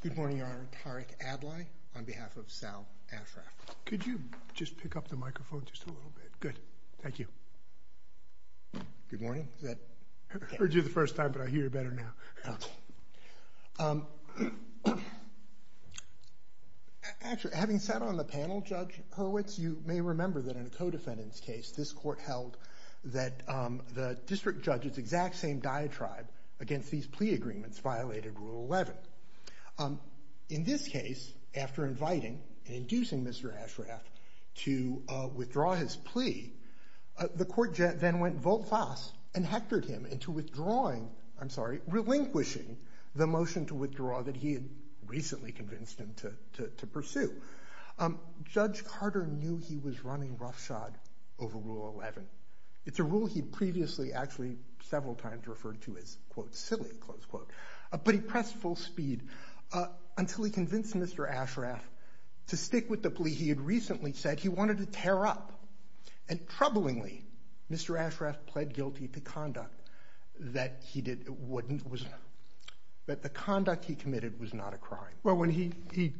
Good morning, Your Honor, Tariq Adlai on behalf of Faisal Ashraf. Could you just pick up the microphone just a little bit? Good. Thank you. Good morning. I heard you the first time, but I hear you better now. Actually, having sat on the panel, Judge Hurwitz, you may remember that in a co-defendant's case, this court held that the district judge's exact same diatribe against these plea agreements violated Rule 11. In this case, after inviting and inducing Mr. Ashraf to withdraw his plea, the court then went volt fast and hectored him into withdrawing, I'm sorry, relinquishing the motion to withdraw that he had recently convinced him to pursue. Judge Carter knew he was running roughshod over Rule 11. It's a rule he'd previously actually several times referred to as quote, speed, until he convinced Mr. Ashraf to stick with the plea he had recently said he wanted to tear up. And troublingly, Mr. Ashraf pled guilty to conduct that he did, wouldn't, was, that the conduct he committed was not a crime. Well, when he, he,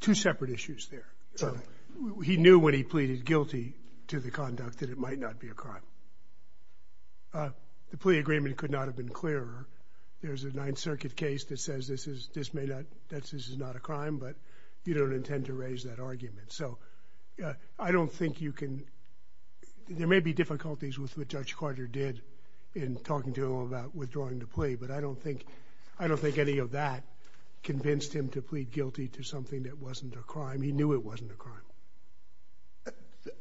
two separate issues there. So he knew when he pleaded guilty to the conduct that it might not be a crime. The plea agreement could not have been clearer. There's a Ninth Circuit case that says this is, this may not, that's, this is not a crime, but you don't intend to raise that argument. So I don't think you can, there may be difficulties with what Judge Carter did in talking to him about withdrawing the plea, but I don't think, I don't think any of that convinced him to plead guilty to something that wasn't a crime. He knew it wasn't a crime.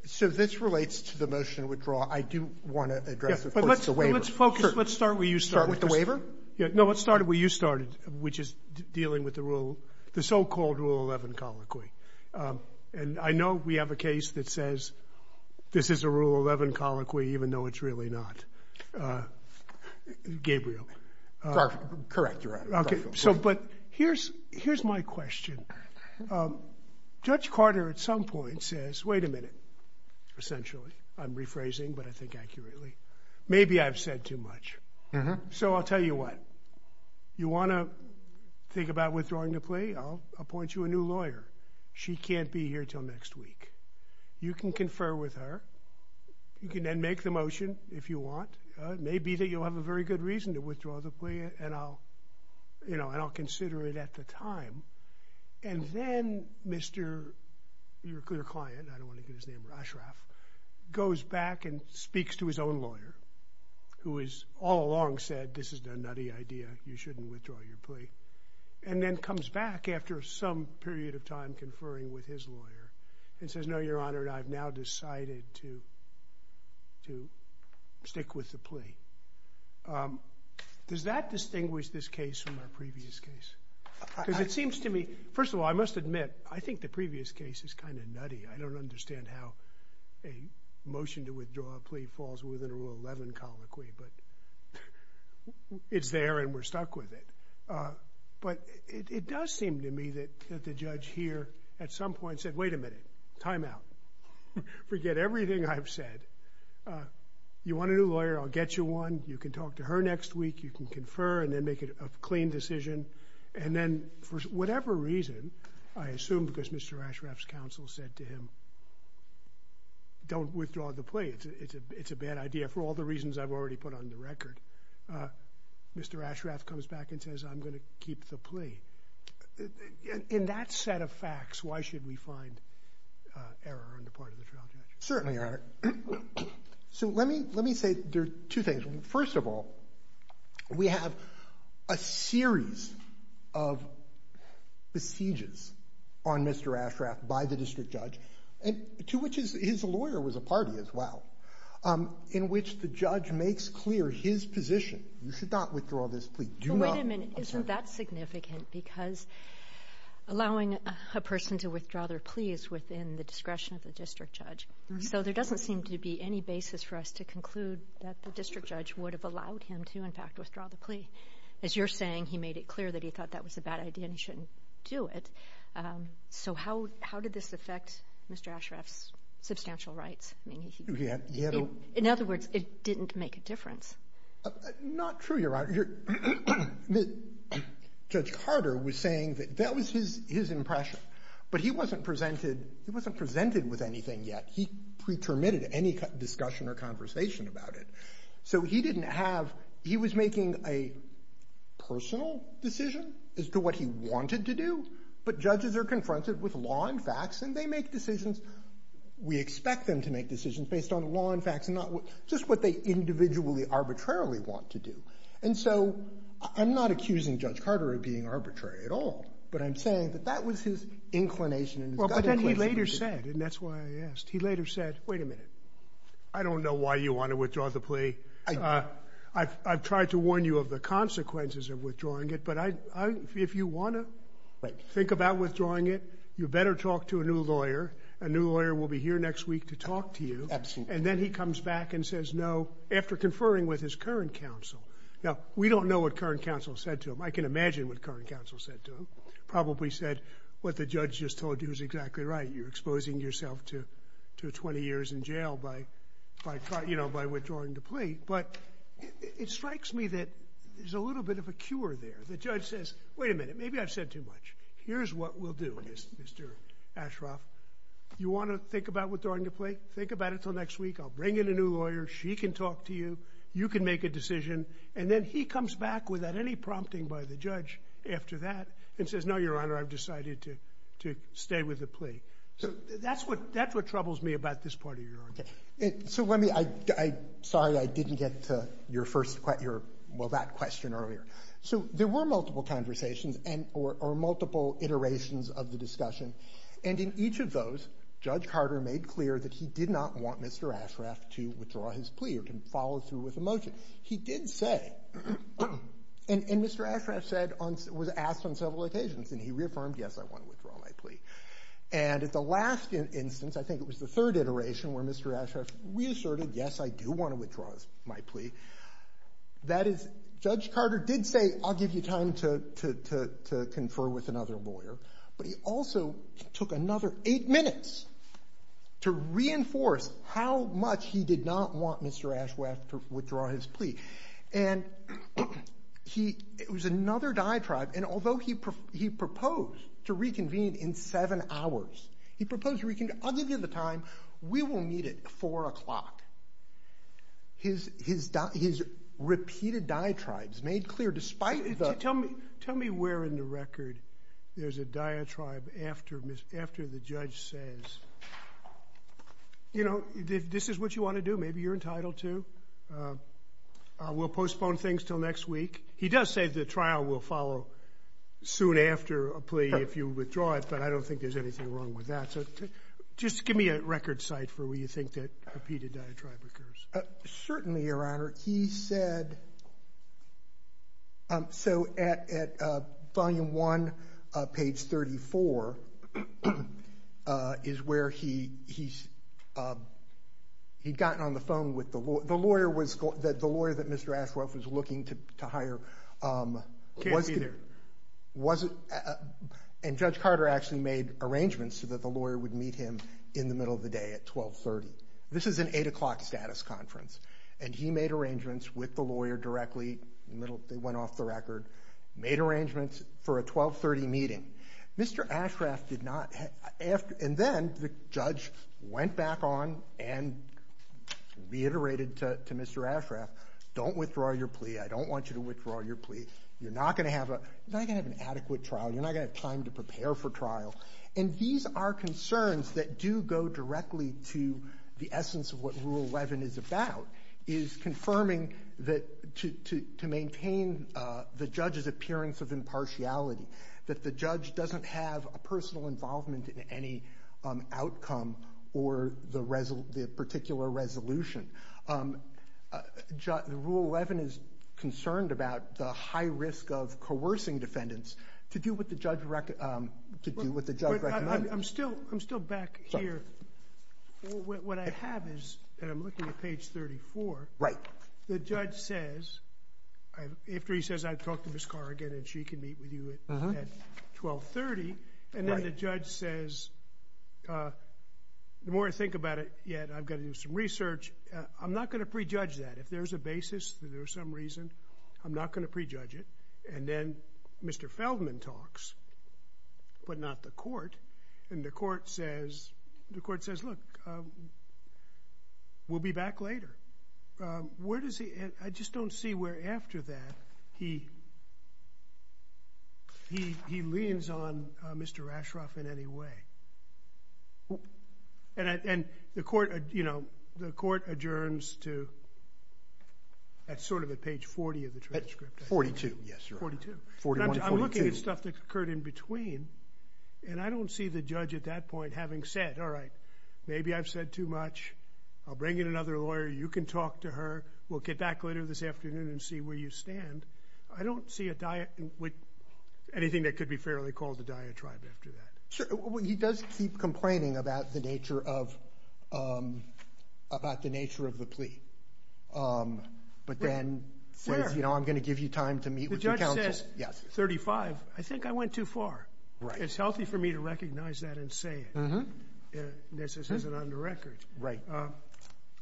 So this relates to the motion to withdraw. I do want to address, of course, the waiver. Let's focus, let's start where you started. Start with the waiver? Yeah, no, let's start where you started, which is dealing with the rule, the so-called rule 11 colloquy. And I know we have a case that says this is a rule 11 colloquy, even though it's really not. Gabriel. Correct. You're right. Okay. So, but here's, here's my question. Judge Carter at some point says, wait a minute, essentially, I'm rephrasing, but I think accurately. Maybe I've said too much. So I'll tell you what, you want to think about withdrawing the plea? I'll appoint you a new lawyer. She can't be here until next week. You can confer with her. You can then make the motion if you want. It may be that you'll have a very good reason to withdraw the plea and I'll, you know, and I'll consider it at the time. And then Mr. Your client, I don't want to get his name wrong, Ashraf goes back and speaks to his own lawyer who has all along said, this is a nutty idea. You shouldn't withdraw your plea. And then comes back after some period of time conferring with his lawyer and says, no, your honor, I've now decided to, to stick with the plea. Does that distinguish this case from our previous case? Because it seems to me, first of all, I must admit, I think the previous case is kind of nutty. I don't understand how a motion to withdraw a plea falls within a rule 11 colloquy, but it's there and we're stuck with it. But it does seem to me that the judge here at some point said, wait a minute. Timeout. Forget everything I've said. You want a new lawyer? I'll get you one. You can talk to her next week. You can confer and then make it a clean decision. And then for whatever reason, I assume because Mr. Ashraf's counsel said to him, don't withdraw the plea. It's a, it's a, it's a bad idea for all the reasons I've already put on the record. Mr. Ashraf comes back and says, I'm going to keep the plea. In that set of facts, why should we find error on the part of the trial judge? Certainly, your honor. So let me, let me say there are two things. First of all, we have a series of besieges on Mr. Ashraf by the district judge and to which is his lawyer was a party as well. Um, in which the judge makes clear his position. You should not withdraw this plea. Do not. Wait a minute. Isn't that significant? Because allowing a person to withdraw their plea is within the discretion of the district judge. So there doesn't seem to be any basis for us to conclude that the judge would have allowed him to in fact, withdraw the plea as you're saying, he made it clear that he thought that was a bad idea and he shouldn't do it. Um, so how, how did this affect Mr. Ashraf's substantial rights? I mean, in other words, it didn't make a difference. Not true. You're right. You're judge Carter was saying that that was his, his impression, but he wasn't presented, he wasn't presented with anything yet. He pretermitted any discussion or conversation about it. So he didn't have, he was making a personal decision as to what he wanted to do, but judges are confronted with law and facts and they make decisions. We expect them to make decisions based on law and facts and not just what they individually arbitrarily want to do. And so I'm not accusing judge Carter of being arbitrary at all, but I'm saying that that was his inclination and his gut inclination. He later said, and that's why I asked, he later said, wait a minute. I don't know why you want to withdraw the plea. Uh, I've, I've tried to warn you of the consequences of withdrawing it. But I, I, if you want to think about withdrawing it, you better talk to a new lawyer, a new lawyer will be here next week to talk to you. And then he comes back and says no after conferring with his current counsel. Now we don't know what current counsel said to him. I can imagine what current counsel said to him. Probably said what the judge just told you is exactly right. You're exposing yourself to, to 20 years in jail by, by, you know, by withdrawing the plea. But it strikes me that there's a little bit of a cure there. The judge says, wait a minute, maybe I've said too much. Here's what we'll do is Mr. Ashraf, you want to think about withdrawing the plea? Think about it till next week. I'll bring in a new lawyer. She can talk to you. You can make a decision. And then he comes back without any prompting by the judge after that and says, no, your honor, I've decided to, to stay with the plea. So that's what, that's what troubles me about this part of your argument. So let me, I, I, sorry, I didn't get to your first question, your, well, that question earlier. So there were multiple conversations and, or, or multiple iterations of the discussion. And in each of those, Judge Carter made clear that he did not want Mr. Ashraf to withdraw his plea or to follow through with a motion. He did say, and, and Mr. Ashraf said on, was asked on several occasions and he reaffirmed, yes, I want to withdraw my plea. And at the last instance, I think it was the third iteration where Mr. Ashraf reasserted, yes, I do want to withdraw my plea. That is, Judge Carter did say, I'll give you time to, to, to, to confer with another lawyer, but he also took another eight minutes to reinforce how much he did not want Mr. Ashraf to withdraw his plea. And he, it was another diatribe. And although he pro, he proposed to reconvene in seven hours, he proposed reconvene, I'll give you the time. We will meet at four o'clock. His, his, his repeated diatribes made clear, despite the... Tell me, tell me where in the record there's a diatribe after Ms., after the judge says, you know, this is what you want to do. Maybe you're entitled to, we'll postpone things till next week. He does say the trial will follow soon after a plea if you withdraw it, but I don't think there's anything wrong with that. So just give me a record site for where you think that repeated diatribe occurs. Certainly, Your Honor. He said, so at, at volume one, page 34 is where he, he's, he'd gotten on the phone with the lawyer, the lawyer was, the lawyer that Mr. Ashraf was looking to, to hire. Can't be there. Wasn't, and Judge Carter actually made arrangements so that the lawyer would meet him in the middle of the day at 1230. This is an eight o'clock status conference. And he made arrangements with the lawyer directly, middle, they went off the record, made arrangements for a 1230 meeting. Mr. Ashraf did not, and then the judge went back on and reiterated to Mr. Ashraf, don't withdraw your plea. I don't want you to withdraw your plea. You're not going to have a, you're not going to have an adequate trial. You're not going to have time to prepare for trial. And these are concerns that do go directly to the essence of what rule 11 is about, is confirming that to, to, to maintain the judge's appearance of impartiality, that the judge doesn't have a personal involvement in any outcome or the resol, the particular resolution. The rule 11 is concerned about the high risk of coercing defendants to do what the judge, to do what the judge recommended. I'm still, I'm still back here. What I have is, and I'm looking at page 34, the judge says, after he says, I've talked to Ms. Corrigan and she can meet with you at 1230. And then the judge says, the more I think about it yet, I've got to do some research, I'm not going to prejudge that. If there's a basis that there was some reason, I'm not going to prejudge it. And then Mr. Feldman talks, but not the court. And the court says, the court says, look, we'll be back later. Um, where does he, I just don't see where after that he, he, he leans on Mr. Ashcroft in any way. And I, and the court, you know, the court adjourns to, that's sort of at page 40 of the transcript. 42. Yes, sir. 42. 41 to 42. I'm looking at stuff that occurred in between and I don't see the judge at that point having said, all right, maybe I've said too much. I'll bring in another lawyer. You can talk to her. We'll get back later this afternoon and see where you stand. I don't see a diet with anything that could be fairly called the diatribe after that. Sure. Well, he does keep complaining about the nature of, um, about the nature of the plea. Um, but then, you know, I'm going to give you time to meet with your counsel. Yes. 35. I think I went too far. Right. It's healthy for me to recognize that and say it. This isn't under record. Right. Um,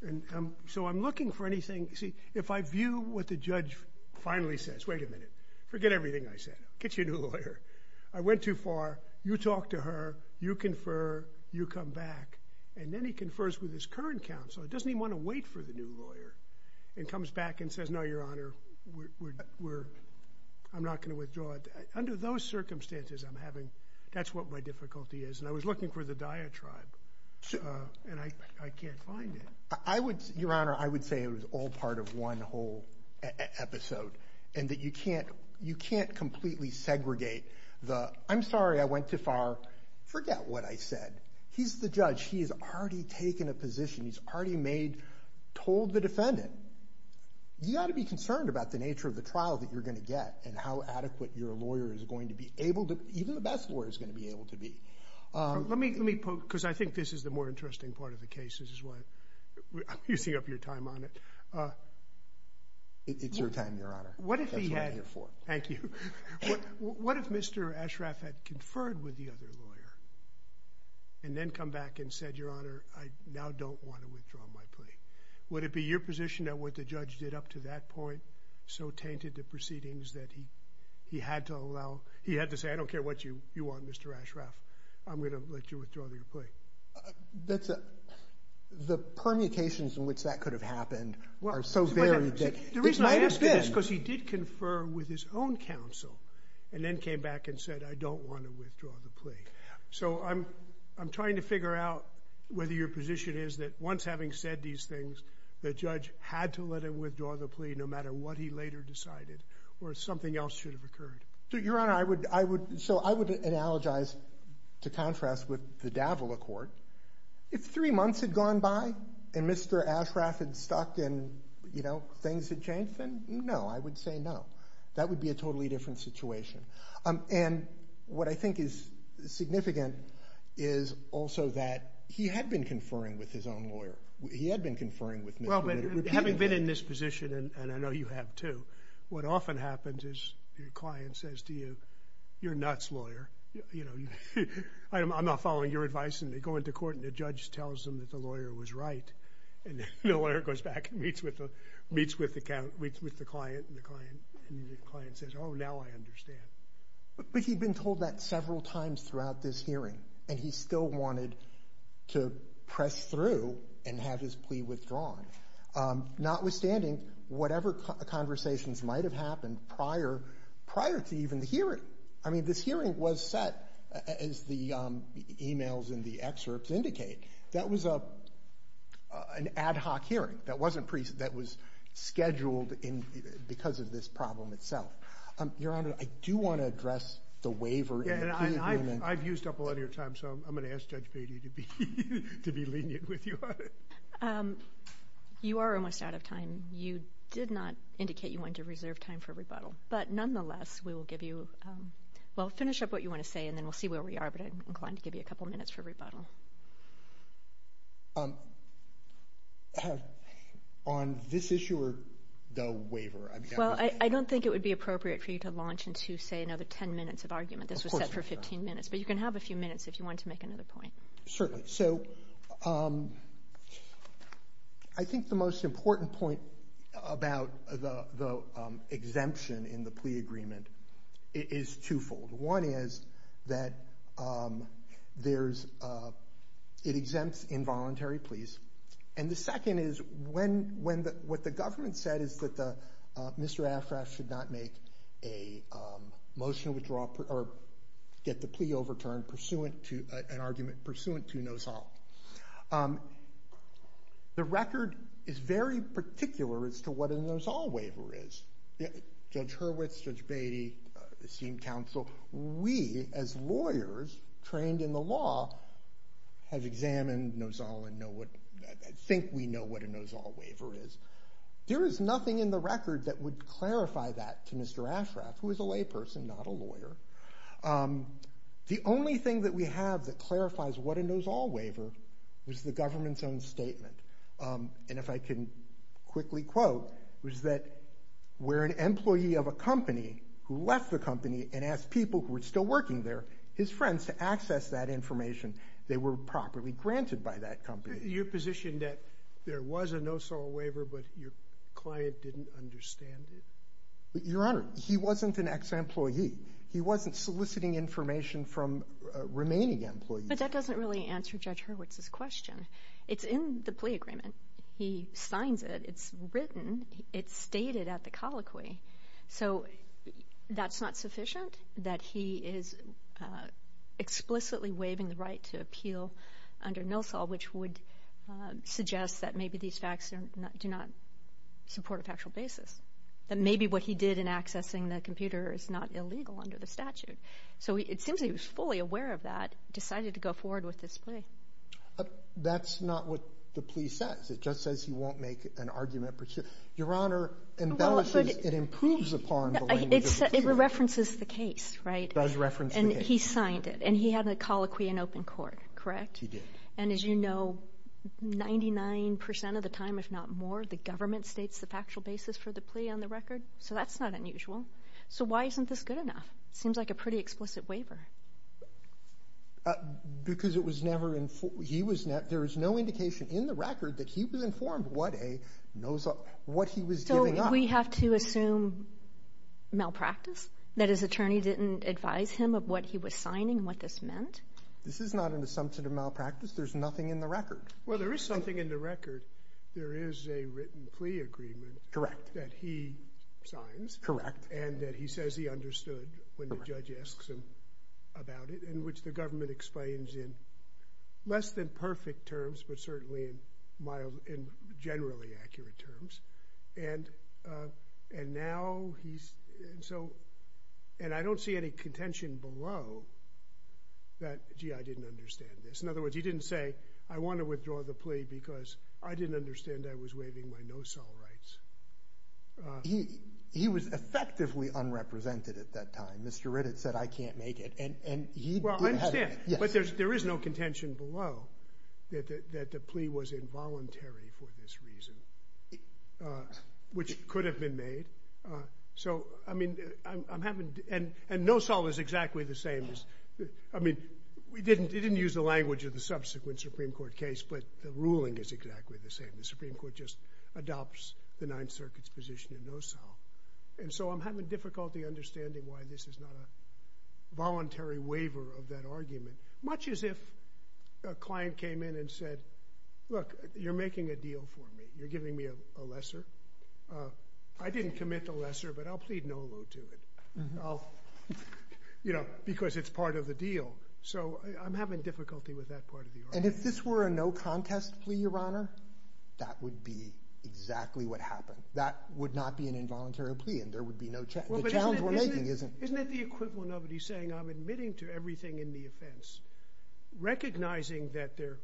and, um, so I'm looking for anything. See, if I view what the judge finally says, wait a minute, forget everything I said, get you a new lawyer. I went too far. You talk to her, you confer, you come back. And then he confers with his current counsel. It doesn't even want to wait for the new lawyer and comes back and says, no, Your Honor, we're, we're, I'm not going to withdraw it under those circumstances. I'm having, that's what my difficulty is. And I was looking for the diatribe, uh, and I, I can't find it. I would, Your Honor, I would say it was all part of one whole episode and that you can't, you can't completely segregate the, I'm sorry, I went too far. Forget what I said. He's the judge. He has already taken a position. He's already made, told the defendant, you got to be concerned about the nature of the trial that you're going to get and how adequate your lawyer is going to be able to, even the best lawyer is going to be able to be. Um, let me, let me poke, cause I think this is the more interesting part of the cases is why I'm using up your time on it. Uh, it's your time, Your Honor. What if he had, thank you. What if Mr. Ashraf had conferred with the other lawyer and then come back and said, Your Honor, I now don't want to withdraw my plea. Would it be your position that what the judge did up to that point? So tainted the proceedings that he, he had to allow, he had to say, I don't care what you, you want Mr. Ashraf, I'm going to let you withdraw your plea. That's the permutations in which that could have happened are so varied. The reason I ask it is because he did confer with his own counsel and then came back and said, I don't want to withdraw the plea. So I'm, I'm trying to figure out whether your position is that once having said these things, the judge had to let him withdraw the plea, no matter what he later decided or something else should have occurred. So Your Honor, I would, I would. So I would analogize to contrast with the Davila court. If three months had gone by and Mr. Ashraf had stuck and, you know, things had changed, then no, I would say no. That would be a totally different situation. Um, and what I think is significant is also that he had been conferring with his own lawyer. He had been conferring with Mr. Ritter repeatedly. Having been in this position, and I know you have too, what often happens is your client says to you, you're nuts, lawyer. You know, I'm not following your advice. And they go into court and the judge tells them that the lawyer was right. And the lawyer goes back and meets with the, meets with the count, meets with the client and the client, and the client says, oh, now I understand. But he'd been told that several times throughout this hearing, and he still wanted to press through and have his plea withdrawn, um, notwithstanding whatever conversations might've happened prior, prior to even the hearing. I mean, this hearing was set as the, um, emails in the excerpts indicate. That was a, uh, an ad hoc hearing that wasn't pre, that was scheduled in, because of this problem itself. Um, Your Honor, I do want to address the waiver. Yeah. And I've, I've used up a lot of your time, so I'm going to ask Judge Beatty to be, to be lenient with you on it. Um, you are almost out of time. You did not indicate you wanted to reserve time for rebuttal, but nonetheless, we will give you, um, well, finish up what you want to say, and then we'll see where we are, but I'm inclined to give you a couple of minutes for rebuttal. Um, have, on this issue or the waiver? I mean, I don't think it would be appropriate for you to launch into, say, another 10 minutes of argument. This was set for 15 minutes, but you can have a few minutes if you want to make another point. Certainly. So, um, I think the most important point about the, the, um, exemption in the plea agreement is twofold. One is that, um, there's, uh, it exempts involuntary pleas. And the second is when, when the, what the government said is that the, uh, Mr. Afras should not make a, um, motion withdraw or get the plea overturned pursuant to, uh, an argument pursuant to Nozal. Um, the record is very particular as to what a Nozal waiver is. Judge Hurwitz, Judge Beatty, esteemed counsel, we as lawyers trained in the law have examined Nozal and know what, I think we know what a Nozal waiver is. There is nothing in the record that would clarify that to Mr. Afras, who is a lay person, not a lawyer. Um, the only thing that we have that clarifies what a Nozal waiver was the government's own statement. Um, and if I can quickly quote was that we're an employee of a company who left the company and asked people who were still working there, his friends to access that information. They were properly granted by that company. You're positioned that there was a Nozal waiver, but your client didn't understand it. Your Honor, he wasn't an ex-employee. He wasn't soliciting information from remaining employees. But that doesn't really answer Judge Hurwitz's question. It's in the plea agreement. He signs it. It's written. It's stated at the colloquy. So that's not sufficient that he is explicitly waiving the right to appeal under Nozal, which would suggest that maybe these facts do not support a factual basis, that maybe what he did in accessing the computer is not illegal under the statute. So it seems he was fully aware of that, decided to go forward with this plea. That's not what the plea says. It just says he won't make an argument. Your Honor, it improves upon the language of the plea. It references the case, right? It does reference the case. And he signed it and he had a colloquy in open court, correct? He did. And as you know, 99% of the time, if not more, the government states the factual basis for the plea on the record. So that's not unusual. So why isn't this good enough? It seems like a pretty explicit waiver. Because it was never in he was there is no indication in the record that he was informed what a Nozal, what he was doing. We have to assume malpractice, that his attorney didn't advise him of what he was signing, what this meant. This is not an assumption of malpractice. There's nothing in the record. Well, there is something in the record. There is a written plea agreement that he signs and that he says he understood when the judge asks him about it, in which the government explains in less than perfect terms, but certainly in mild, in generally accurate terms. And and now he's so, and I don't see any contention below that, gee, I didn't understand this. In other words, he didn't say, I want to withdraw the plea because I didn't understand I was waiving my Nozal rights. He, he was effectively unrepresented at that time. Mr. Riddick said, I can't make it. And, and he, well, I understand, but there's, there is no contention below that, that, that the plea was involuntary for this reason, which could have been made. So, I mean, I'm, I'm having, and, and Nozal is exactly the same as, I mean, we judge of the subsequent Supreme Court case, but the ruling is exactly the same. The Supreme Court just adopts the Ninth Circuit's position in Nozal. And so I'm having difficulty understanding why this is not a voluntary waiver of that argument, much as if a client came in and said, look, you're making a deal for me, you're giving me a, a lesser. I didn't commit to lesser, but I'll plead no low to it. I'll, you know, because it's part of the deal. So I'm having difficulty with that part of the argument. And if this were a no contest plea, Your Honor, that would be exactly what happened. That would not be an involuntary plea and there would be no challenge. Well, but isn't it, isn't it the equivalent of it? He's saying I'm admitting to everything in the offense, recognizing that there,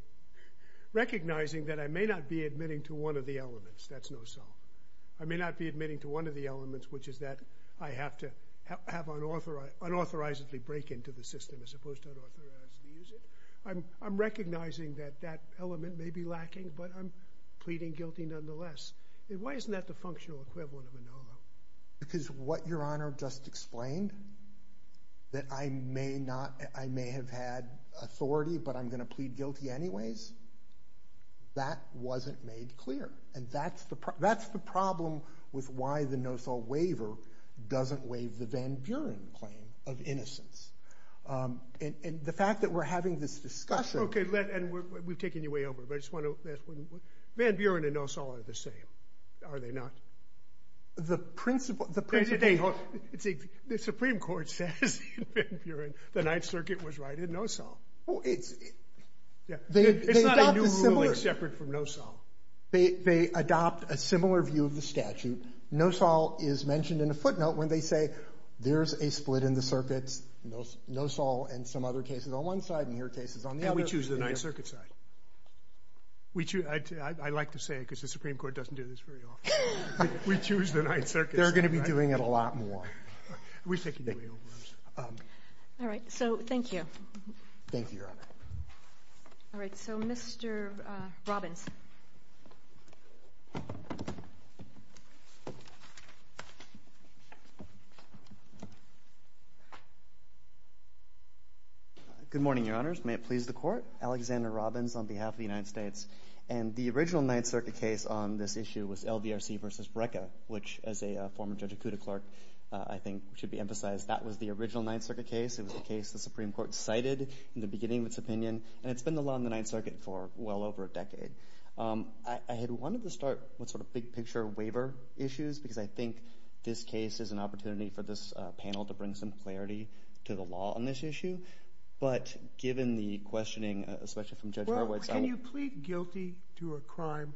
recognizing that I may not be admitting to one of the elements, that's Nozal. I may not be admitting to one of the elements, which is that I have to have unauthorized, unauthorized to break into the system as opposed to unauthorized to use it. I'm, I'm recognizing that that element may be lacking, but I'm pleading guilty nonetheless. And why isn't that the functional equivalent of a no low? Because what Your Honor just explained, that I may not, I may have had authority, but I'm going to plead guilty anyways. That wasn't made clear. And that's the, that's the problem with why the Nozal waiver doesn't waive the Van Buren claim of innocence. And the fact that we're having this discussion. Okay, let, and we're, we've taken you way over, but I just want to, Van Buren and Nozal are the same, are they not? The principle, the principle. They, the Supreme Court says in Van Buren, the Ninth Circuit was right in Nozal. Well, it's, it's not a new ruling separate from Nozal. They, they adopt a similar view of the statute. Nozal is mentioned in a footnote when they say, there's a split in the circuits, Nozal and some other cases on one side and your cases on the other. And we choose the Ninth Circuit side. We choose, I like to say it because the Supreme Court doesn't do this very often. We choose the Ninth Circuit side. They're going to be doing it a lot more. We've taken you way over. All right. So thank you. Thank you, Your Honor. All right. So Mr. Robbins. Good morning, Your Honors. May it please the Court. Alexander Robbins on behalf of the United States. And the original Ninth Circuit case on this issue was LVRC versus BRCA, which as a former judge of CUDA clerk, I think should be emphasized. That was the original Ninth Circuit case. It was a case the Supreme Court cited in the beginning of its opinion, and it's been the law in the Ninth Circuit for well over a decade. I had wanted to start with sort of big picture waiver issues because I think this case is an opportunity for this panel to bring some clarity to the law on this issue. But given the questioning, especially from Judge Garwood's side. Can you plead guilty to a crime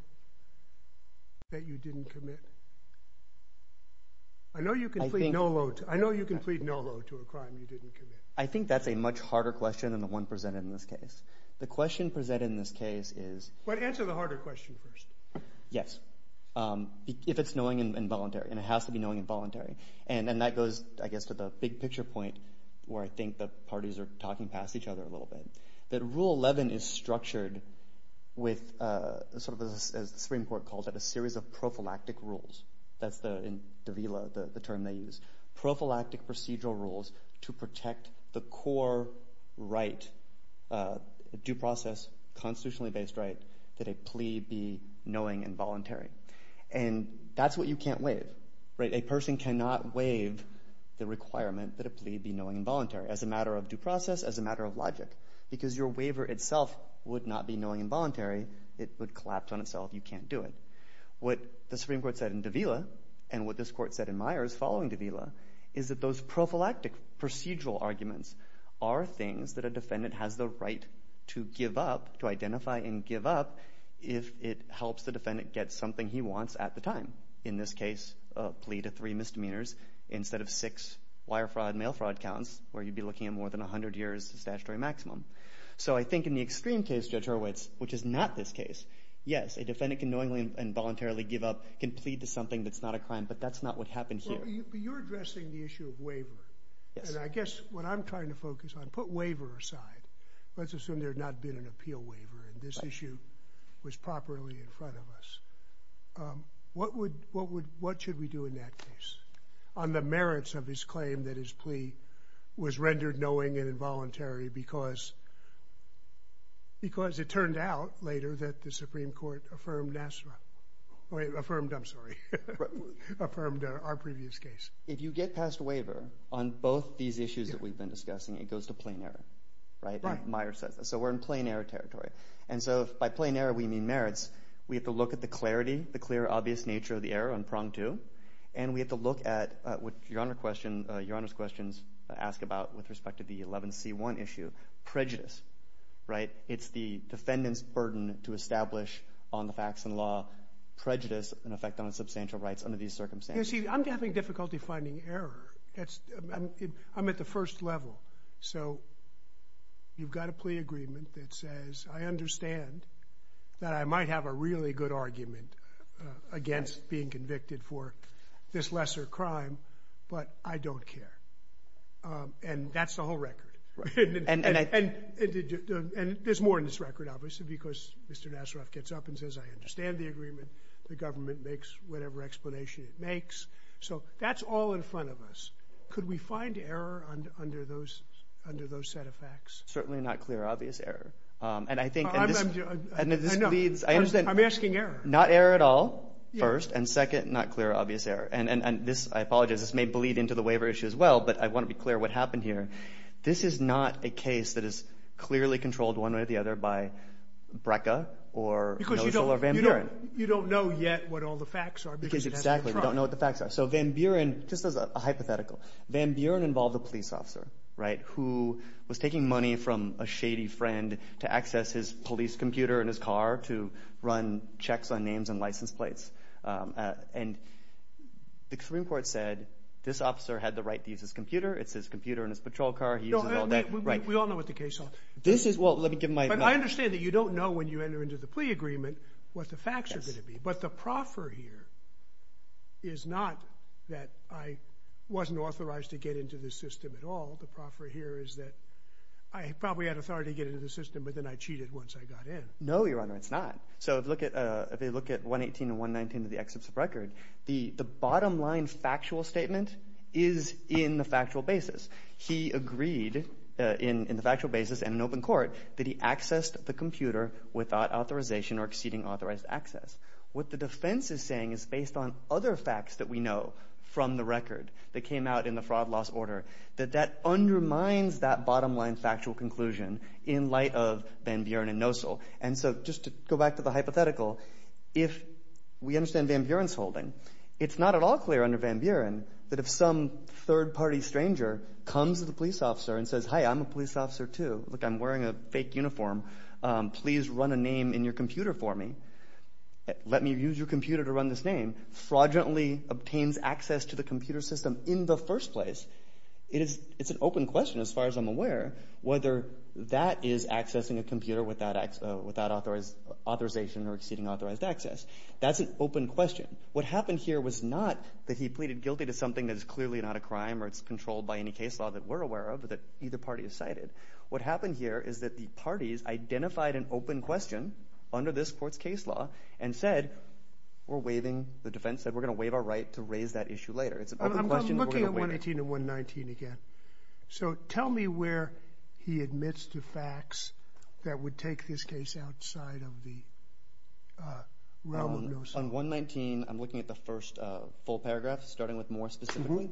that you didn't commit? I know you can plead no loath. I know you can plead no loath to a crime you didn't commit. I think that's a much harder question than the one presented in this case. The question presented in this case is. But answer the harder question first. Yes. If it's knowing and voluntary, and it has to be knowing and voluntary. And that goes, I guess, to the big picture point where I think the parties are talking past each other a little bit. That Rule 11 is structured with sort of, as the Supreme Court called it, a series of prophylactic rules. That's the, in Davila, the term they use. Prophylactic procedural rules to protect the core right, due process, constitutionally based right, that a plea be knowing and voluntary. And that's what you can't waive, right? A person cannot waive the requirement that a plea be knowing and voluntary as a matter of due process, as a matter of logic. Because your waiver itself would not be knowing and voluntary. It would collapse on itself. You can't do it. What the Supreme Court said in Davila, and what this court said in Myers following Davila, is that those prophylactic procedural arguments are things that a defendant has the right to give up, to identify and give up, if it helps the defendant get something he wants at the time. In this case, a plea to three misdemeanors instead of six wire fraud, mail fraud counts, where you'd be looking at more than 100 years statutory maximum. So I think in the extreme case, Judge Hurwitz, which is not this case, yes, a defendant can knowingly and voluntarily give up, can plead to something that's not a crime. But that's not what happened here. But you're addressing the issue of waiver. And I guess what I'm trying to focus on, put waiver aside. Let's assume there had not been an appeal waiver and this issue was properly in front of us. What should we do in that case? On the merits of his claim that his plea was rendered knowing and involuntary because it turned out later that the Supreme Court affirmed our previous case. If you get passed a waiver on both these issues that we've been discussing, it goes to plain error, right? Meyer says that. So we're in plain error territory. And so by plain error, we mean merits. We have to look at the clarity, the clear, obvious nature of the error on prong two. And we have to look at what Your Honor's questions ask about with respect to the 11c1 issue. Prejudice, right? It's the defendant's burden to establish on the facts and law prejudice and effect on the substantial rights under these circumstances. You see, I'm having difficulty finding error. I'm at the first level. So you've got a plea agreement that says, I understand that I might have a really good argument against being convicted for this lesser crime, but I don't care. And that's the whole record. And there's more in this record, obviously, because Mr. Nasraf gets up and says, I understand the agreement. The government makes whatever explanation it makes. So that's all in front of us. Could we find error under those set of facts? Certainly not clear, obvious error. And I think this leads... I'm asking error. Not error at all, first. And second, not clear, obvious error. And this, I apologize, this may bleed into the waiver issue as well. But I want to be clear what happened here. This is not a case that is clearly controlled one way or the other by BRCA or NOSAL or Van Buren. You don't know yet what all the facts are. Because you don't know what the facts are. So Van Buren, just as a hypothetical, Van Buren involved a police officer, right, who was taking money from a shady friend to access his police computer in his car to run checks on names and license plates. And the Supreme Court said, this officer had the right to use his computer. It's his computer in his patrol car. He uses all that, right. We all know what the case is. This is, well, let me give my... But I understand that you don't know when you enter into the plea agreement what the facts are going to be. But the proffer here is not that I wasn't authorized to get into the system at all. The proffer here is that I probably had authority to get into the system, but then I cheated once I got in. No, Your Honor, it's not. So if you look at 118 and 119 of the excerpts of record, the bottom line factual statement is in the factual basis. He agreed in the factual basis and in open court that he accessed the computer without authorization or exceeding authorized access. What the defense is saying is based on other facts that we know from the record that came out in the fraud loss order, that that undermines that bottom line factual conclusion in light of Van Buren and Nosel. And so just to go back to the hypothetical, if we understand Van Buren's holding, it's not at all clear under Van Buren that if some third party stranger comes to the police officer and says, hi, I'm a police officer, too. Look, I'm wearing a fake uniform. Please run a name in your computer for me. Let me use your computer to run this name, fraudulently obtains access to the computer system in the first place. It's an open question, as far as I'm aware, whether that is accessing a computer without authorization or exceeding authorized access. That's an open question. What happened here was not that he pleaded guilty to something that is clearly not a crime or it's controlled by any case law that we're aware of, that either party has cited. What happened here is that the parties identified an open question under this court's case law and said, we're waiving, the defense said, we're going to waive our right to raise that issue later. It's an open question. I'm looking at 118 and 119 again. So tell me where he admits to facts that would take this case outside of the realm of no-same. On 119, I'm looking at the first full paragraph, starting with more specifically.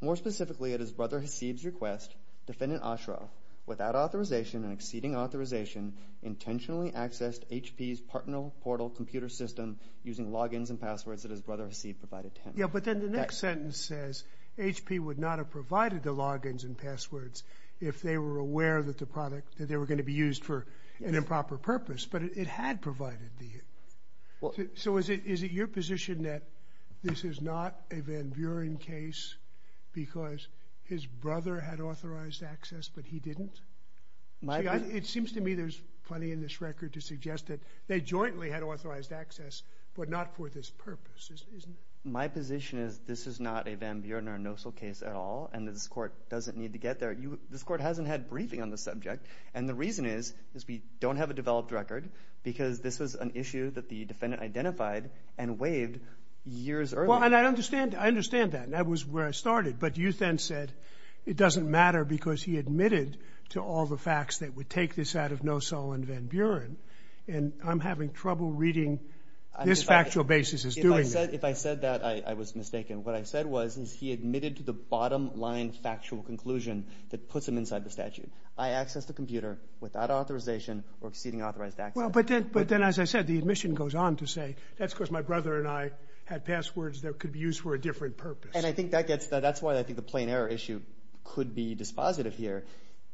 More specifically, at his brother Hasib's request, defendant Ashraf, without authorization and exceeding authorization, intentionally accessed HP's partner portal computer system using logins and passwords that his brother Hasib provided to him. Yeah, but then the next sentence says HP would not have provided the logins and passwords if they were aware that the product, that they were going to be used for an improper purpose. But it had provided the. So is it your position that this is not a Van Buren case because his brother had authorized access, but he didn't? My. It seems to me there's plenty in this record to suggest that they jointly had authorized access, but not for this purpose. My position is this is not a Van Buren or NOSOL case at all, and this court doesn't need to get there. This court hasn't had briefing on the subject. And the reason is, is we don't have a developed record because this was an issue that the defendant identified and waived years earlier. Well, and I understand. I understand that. And that was where I started. But you then said it doesn't matter because he admitted to all the facts that would take this out of NOSOL and Van Buren. And I'm having trouble reading this factual basis. If I said that, I was mistaken. What I said was, is he admitted to the bottom line factual conclusion that puts him inside the statute. I access the computer without authorization or exceeding authorized access. Well, but then, but then, as I said, the admission goes on to say that's because my brother and I had passwords that could be used for a different purpose. And I think that gets that's why I think the plain error issue could be dispositive here.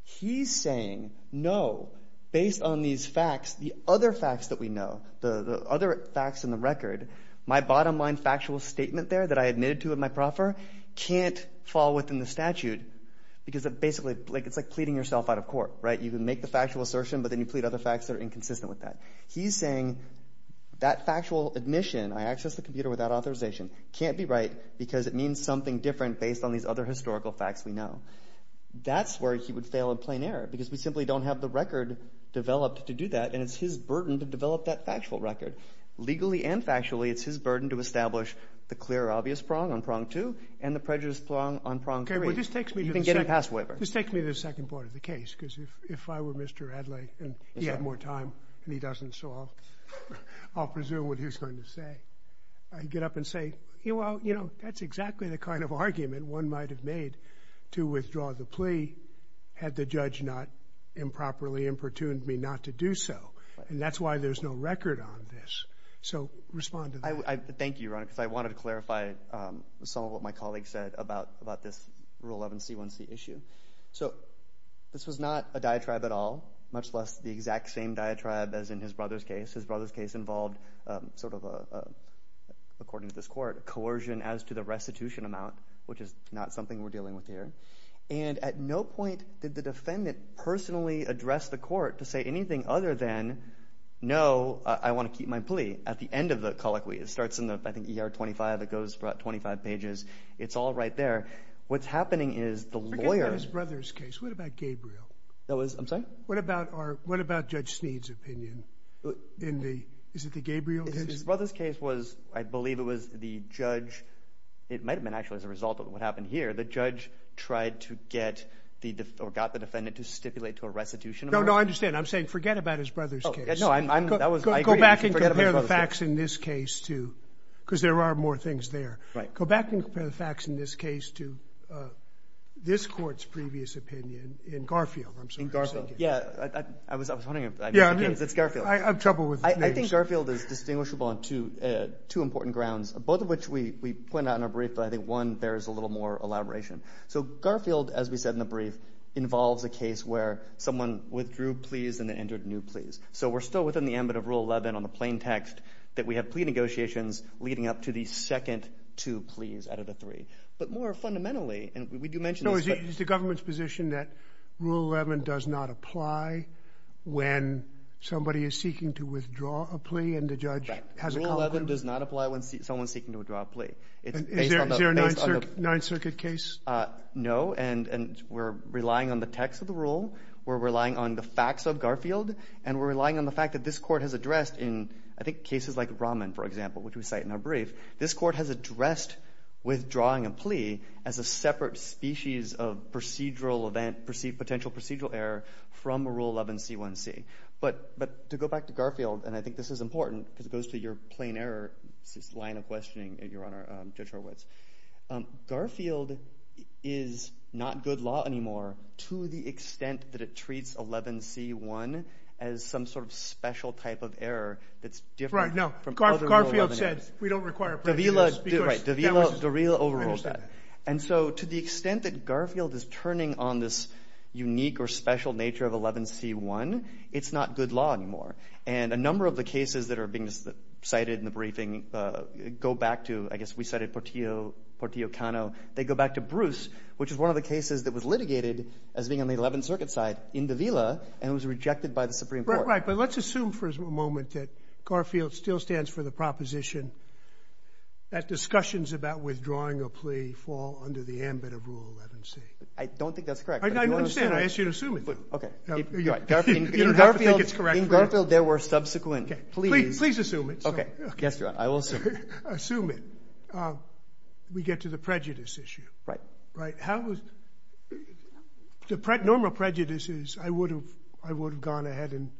He's saying, no, based on these facts, the other facts that we know, the other facts in the record, my bottom line factual statement there that I admitted to in my proffer can't fall within the statute because it basically like it's like pleading yourself out of court, right? You can make the factual assertion, but then you plead other facts that are inconsistent with that. He's saying that factual admission, I access the computer without authorization, can't be right because it means something different based on these other historical facts we know. That's where he would fail in plain error because we simply don't have the record developed to do that. And it's his burden to develop that factual record legally and factually. It's his burden to establish the clear, obvious prong on prong two and the prejudiced prong on prong three. This takes me to the second part of the case, because if I were Mr. Adlai and he had more time and he doesn't, so I'll presume what he's going to say. I get up and say, well, you know, that's exactly the kind of argument one might have made to withdraw the plea had the judge not improperly importuned me not to do so. And that's why there's no record on this. So respond to that. I thank you, Ron, because I wanted to clarify some of what my colleague said about about this Rule 11C1C issue. So this was not a diatribe at all, much less the exact same diatribe as in his brother's case. His brother's case involved sort of, according to this court, coercion as to the dealing with here. And at no point did the defendant personally address the court to say anything other than, no, I want to keep my plea. At the end of the colloquy, it starts in the, I think, ER 25, it goes for about 25 pages. It's all right there. What's happening is the lawyer's brother's case. What about Gabriel? That was, I'm sorry. What about our, what about Judge Sneed's opinion in the, is it the Gabriel case? His brother's case was, I believe it was the judge. It might have been actually as a result of what happened here. The judge tried to get the, or got the defendant to stipulate to a restitution. No, no, I understand. I'm saying forget about his brother's case. No, I'm, I'm, that was, I agree. Go back and compare the facts in this case to, because there are more things there. Right. Go back and compare the facts in this case to this Court's previous opinion in Garfield. I'm sorry. In Garfield. Yeah, I was, I was wondering if I missed the case. It's Garfield. I have trouble with names. I think Garfield is distinguishable on two, two important grounds, both of which we, we need a little more elaboration. So, Garfield, as we said in the brief, involves a case where someone withdrew pleas and then entered new pleas. So, we're still within the ambit of Rule 11 on the plain text that we have plea negotiations leading up to the second two pleas out of the three. But more fundamentally, and we do mention this, but. No, is it, is the government's position that Rule 11 does not apply when somebody is seeking to withdraw a plea and the judge has a conclusion? Right. Rule 11 does not apply when someone's seeking to withdraw a plea. It's based on the, based on the. Is there a Ninth Circuit, Ninth Circuit case? No. And, and we're relying on the text of the rule. We're relying on the facts of Garfield. And we're relying on the fact that this Court has addressed in, I think, cases like Rahman, for example, which we cite in our brief. This Court has addressed withdrawing a plea as a separate species of procedural event, perceived potential procedural error from Rule 11c1c. But, but to go back to Garfield, and I think this is important because it goes to your line of questioning, Your Honor, Judge Horwitz. Garfield is not good law anymore to the extent that it treats 11c1 as some sort of special type of error that's different from other Rule 11 errors. Right, no. Garfield said we don't require a plea to do this because that was, I understand that. Right, Davila, Davila overruled that. And so to the extent that Garfield is turning on this unique or special nature of 11c1, it's not good law anymore. And a number of the cases that are being cited in the briefing go back to, I guess we cited Portillo, Portillo-Cano, they go back to Bruce, which is one of the cases that was litigated as being on the Eleventh Circuit side in Davila and was rejected by the Supreme Court. Right, right. But let's assume for a moment that Garfield still stands for the proposition that discussions about withdrawing a plea fall under the ambit of Rule 11c. I don't think that's correct. I understand. I ask you to assume it. Okay. You're right. You don't have to think it's correct. In Garfield, in Garfield there were subsequent pleas. Please assume it. Okay. Yes, Your Honor. I will assume it. Assume it. We get to the prejudice issue. Right. Right. How was, the normal prejudice is I would have, I would have gone ahead and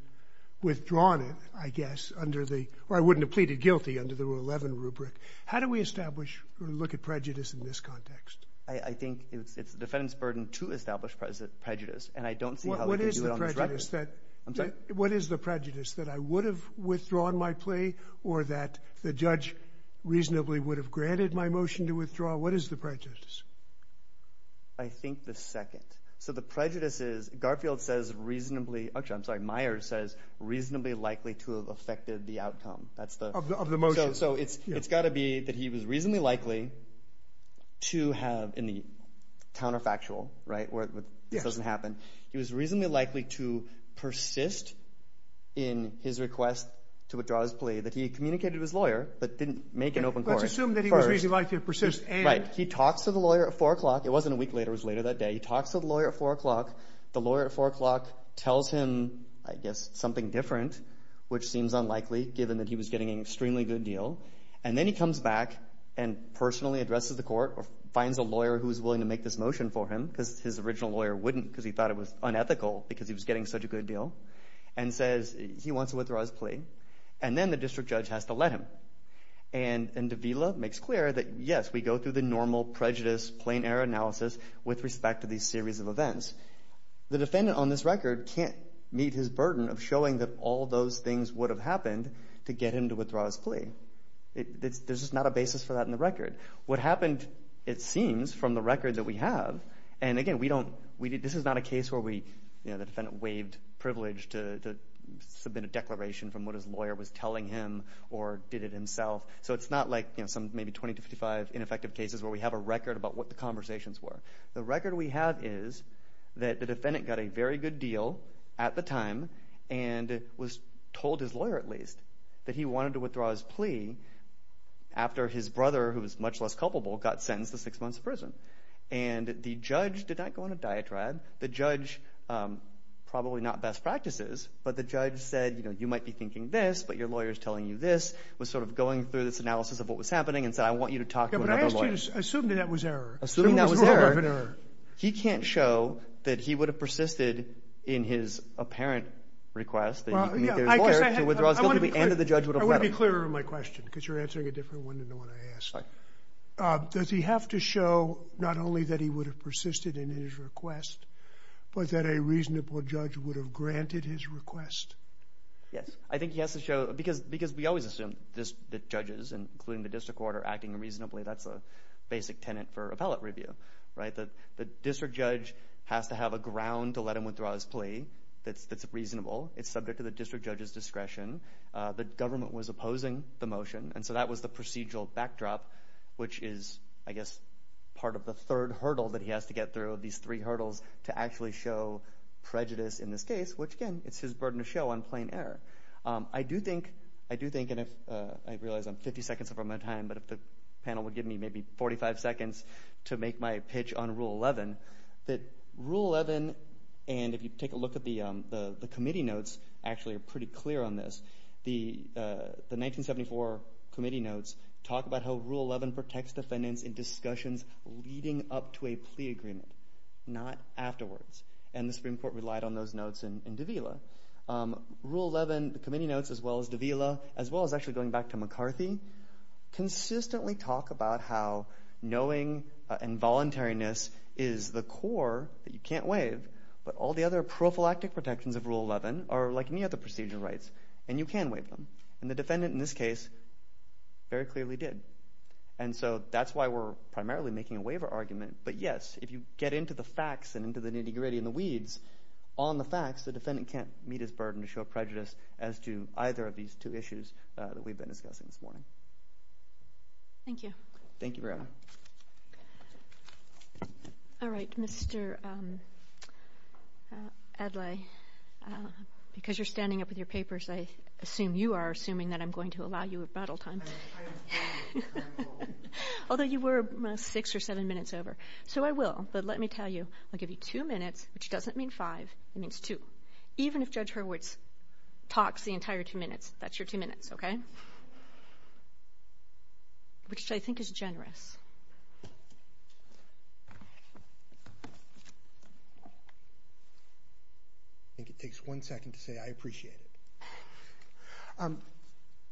withdrawn it, I guess, under the, or I wouldn't have pleaded guilty under the Rule 11 rubric. How do we establish or look at prejudice in this context? I think it's the defendant's burden to establish prejudice. And I don't see how we could do it on this record. What is the prejudice? I'm sorry? What is the prejudice? That I would have withdrawn my plea or that the judge reasonably would have granted my motion to withdraw? What is the prejudice? I think the second. So the prejudice is, Garfield says reasonably, actually, I'm sorry, Myers says reasonably likely to have affected the outcome. That's the... Of the motion. So it's got to be that he was reasonably likely to have, in the counterfactual, right, where this doesn't happen. Yes. He was reasonably likely to persist in his request to withdraw his plea, that he communicated with his lawyer, but didn't make an open court. Let's assume that he was reasonably likely to persist and... Right. He talks to the lawyer at 4 o'clock. It wasn't a week later. It was later that day. He talks to the lawyer at 4 o'clock. The lawyer at 4 o'clock tells him, I guess, something different, which seems unlikely, given that he was getting an extremely good deal. And then he comes back and personally addresses the court or finds a lawyer who was willing to make this motion for him, because his original lawyer wouldn't, because he thought it was unethical, because he was getting such a good deal, and says he wants to withdraw his plea. And then the district judge has to let him. And Davila makes clear that, yes, we go through the normal prejudice, plain error analysis with respect to these series of events. The defendant on this record can't meet his burden of showing that all those things would have happened to get him to withdraw his plea. There's just not a basis for that in the record. What happened, it seems, from the record that we have, and again, we don't... The defendant waived privilege to submit a declaration from what his lawyer was telling him or did it himself. So it's not like some maybe 20 to 55 ineffective cases where we have a record about what the conversations were. The record we have is that the defendant got a very good deal at the time and was told, his lawyer at least, that he wanted to withdraw his plea after his brother, who was much less culpable, got sentenced to six months in prison. And the judge did not go on a diatribe. The judge, probably not best practices, but the judge said, you know, you might be thinking this, but your lawyer's telling you this, was sort of going through this analysis of what was happening and said, I want you to talk to another lawyer. Yeah, but I asked you to assume that that was error. Assuming that was error, he can't show that he would have persisted in his apparent request that he meet his lawyer to withdraw his guilty plea and that the judge would have let him. I want to be clearer in my question, because you're answering a different one than the one I asked. Sorry. Does he have to show not only that he would have persisted in his request, but that a reasonable judge would have granted his request? Yes. I think he has to show, because we always assume that judges, including the district court, are acting reasonably. That's a basic tenet for appellate review, right? The district judge has to have a ground to let him withdraw his plea that's reasonable. It's subject to the district judge's discretion. The government was opposing the motion. That was the procedural backdrop, which is, I guess, part of the third hurdle that he has to get through. These three hurdles to actually show prejudice in this case, which again, it's his burden to show on plain error. I do think, and I realize I'm 50 seconds from my time, but if the panel would give me maybe 45 seconds to make my pitch on Rule 11, that Rule 11, and if you take a look at the committee notes, actually are pretty clear on this. The 1974 committee notes talk about how Rule 11 protects defendants in discussions leading up to a plea agreement, not afterwards, and the Supreme Court relied on those notes in Davila. Rule 11, the committee notes, as well as Davila, as well as actually going back to McCarthy, consistently talk about how knowing involuntariness is the core that you can't waive, but all the other prophylactic protections of Rule 11 are like any other procedural rights, and you can waive them, and the defendant in this case very clearly did, and so that's why we're primarily making a waiver argument, but yes, if you get into the facts and into the nitty gritty and the weeds on the facts, the defendant can't meet his burden to show prejudice as to either of these two issues that we've been discussing this morning. Thank you. Thank you very much. All right, Mr. Adlai, because you're standing up with your papers, I assume you are assuming that I'm going to allow you rebuttal time, although you were six or seven minutes over, so I will, but let me tell you, I'll give you two minutes, which doesn't mean five, it means two, even if Judge Hurwitz talks the entire two minutes, that's your two minutes, okay, which I think is generous. I think it takes one second to say I appreciate it. A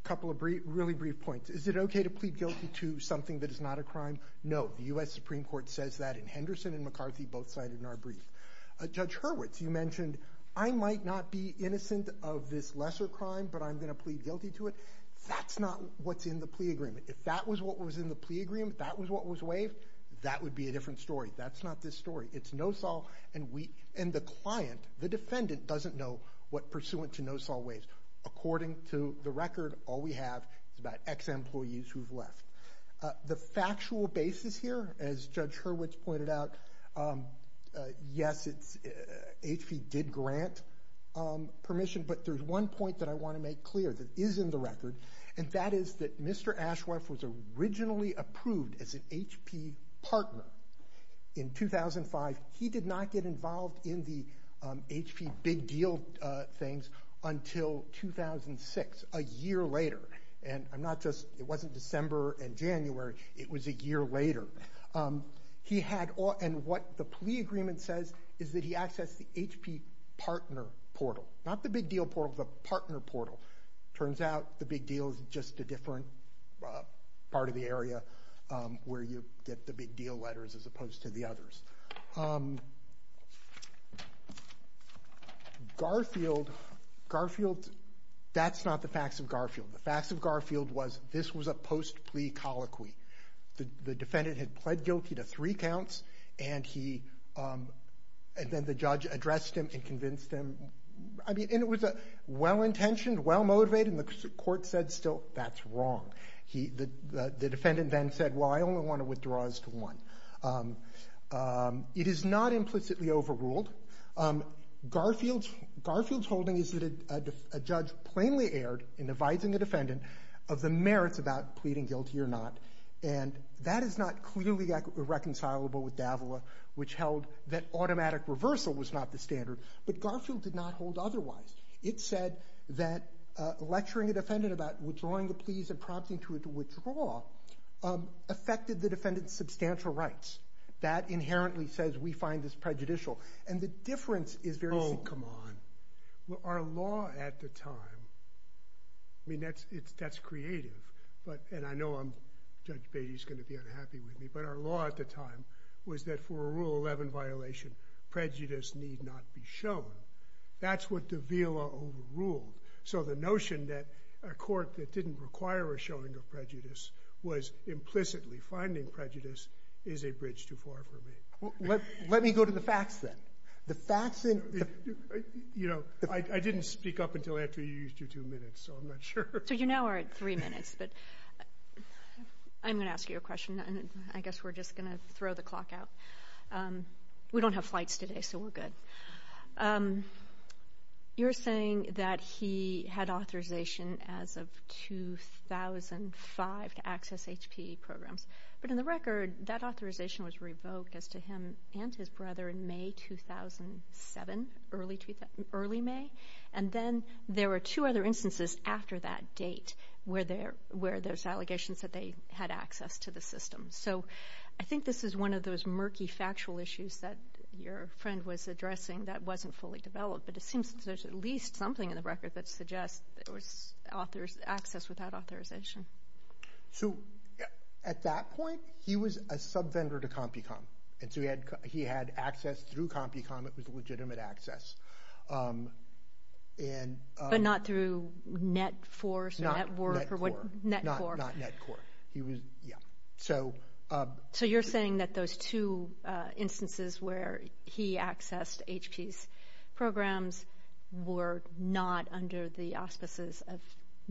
couple of really brief points. Is it okay to plead guilty to something that is not a crime? No. The U.S. Supreme Court says that, and Henderson and McCarthy both signed in our brief. Judge Hurwitz, you mentioned, I might not be innocent of this lesser crime, but I'm going to plead guilty to it. That's not what's in the plea agreement. If that was what was in the plea agreement, that was what was waived, that would be a different story. That's not this story. It's NOSOL, and the client, the defendant, doesn't know what pursuant to NOSOL waives. According to the record, all we have is about ex-employees who've left. The factual basis here, as Judge Hurwitz pointed out, yes, HP did grant permission, but there's one point that I want to make clear that is in the record, and that is that Mr. Ashworth was originally approved as an HP partner in 2005. He did not get involved in the HP big deal things until 2006, a year later. It wasn't December and January. It was a year later. What the plea agreement says is that he accessed the HP partner portal. Not the big deal portal, the partner portal. Turns out the big deal is just a different part of the area where you get the big deal letters as opposed to the others. Garfield, that's not the facts of Garfield. The facts of Garfield was this was a post-plea colloquy. The defendant had pled guilty to three counts, and then the judge addressed him and convinced him. It was well-intentioned, well-motivated, and the court said, still, that's wrong. The defendant then said, well, I only want to withdraw as to one. It is not implicitly overruled. Garfield's holding is that a judge plainly erred in advising the defendant of the merits about pleading guilty or not, and that is not clearly reconcilable with Davila, which Garfield did not hold otherwise. It said that lecturing a defendant about withdrawing the pleas and prompting to withdraw affected the defendant's substantial rights. That inherently says we find this prejudicial, and the difference is very simple. Oh, come on. Our law at the time, I mean, that's creative, and I know Judge Beattie's going to be unhappy with me, but our law at the time was that for a Rule 11 violation, prejudice need not be shown. That's what Davila overruled. So the notion that a court that didn't require a showing of prejudice was implicitly finding prejudice is a bridge too far for me. Let me go to the facts, then. The facts in the... You know, I didn't speak up until after you used your two minutes, so I'm not sure. So you now are at three minutes, but I'm going to ask you a question, and I guess we're just going to throw the clock out. We don't have flights today, so we're good. You're saying that he had authorization as of 2005 to access HPE programs, but in the record, that authorization was revoked as to him and his brother in May 2007, early May, and then there were two other instances after that date where there's allegations that they had access to the system. So I think this is one of those murky factual issues that your friend was addressing that wasn't fully developed, but it seems that there's at least something in the record that suggests that there was access without authorization. So at that point, he was a sub-vendor to CompuCom, and so he had access through CompuCom. It was a legitimate access, and... But not through NetForce or NetWork or NetCore? Not NetCore. He was... Yeah. So... So you're saying that those two instances where he accessed HPE's programs were not under the auspices of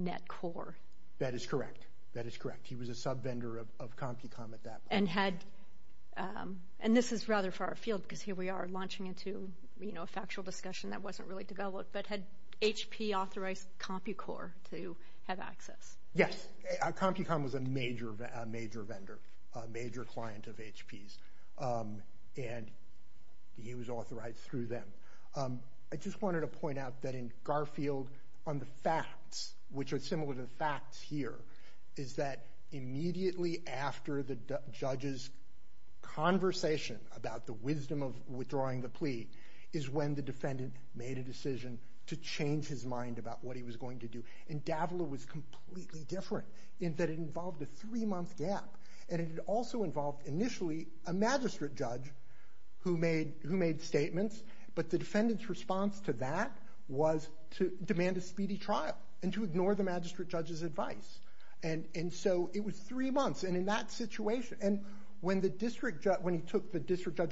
NetCore? That is correct. That is correct. He was a sub-vendor of CompuCom at that point. And this is rather far afield, because here we are launching into a factual discussion that wasn't really developed, but had HPE authorized CompuCore to have access? Yes. CompuCom was a major vendor, a major client of HPE's, and he was authorized through them. I just wanted to point out that in Garfield, on the facts, which are similar to the facts here, is that immediately after the judge's conversation about the wisdom of withdrawing the plea is when the defendant made a decision to change his mind about what he was going to do. And Davila was completely different, in that it involved a three-month gap, and it also involved initially a magistrate judge who made statements, but the defendant's response to that was to demand a speedy trial, and to ignore the magistrate judge's advice. And so it was three months, and in that situation, and when the district judge who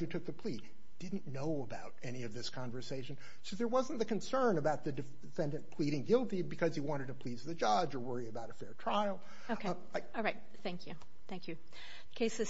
took the plea didn't know about any of this conversation, so there wasn't the concern about the defendant pleading guilty because he wanted to please the judge or worry about a fair trial. Okay. All right. Thank you. Thank you. Case is submitted.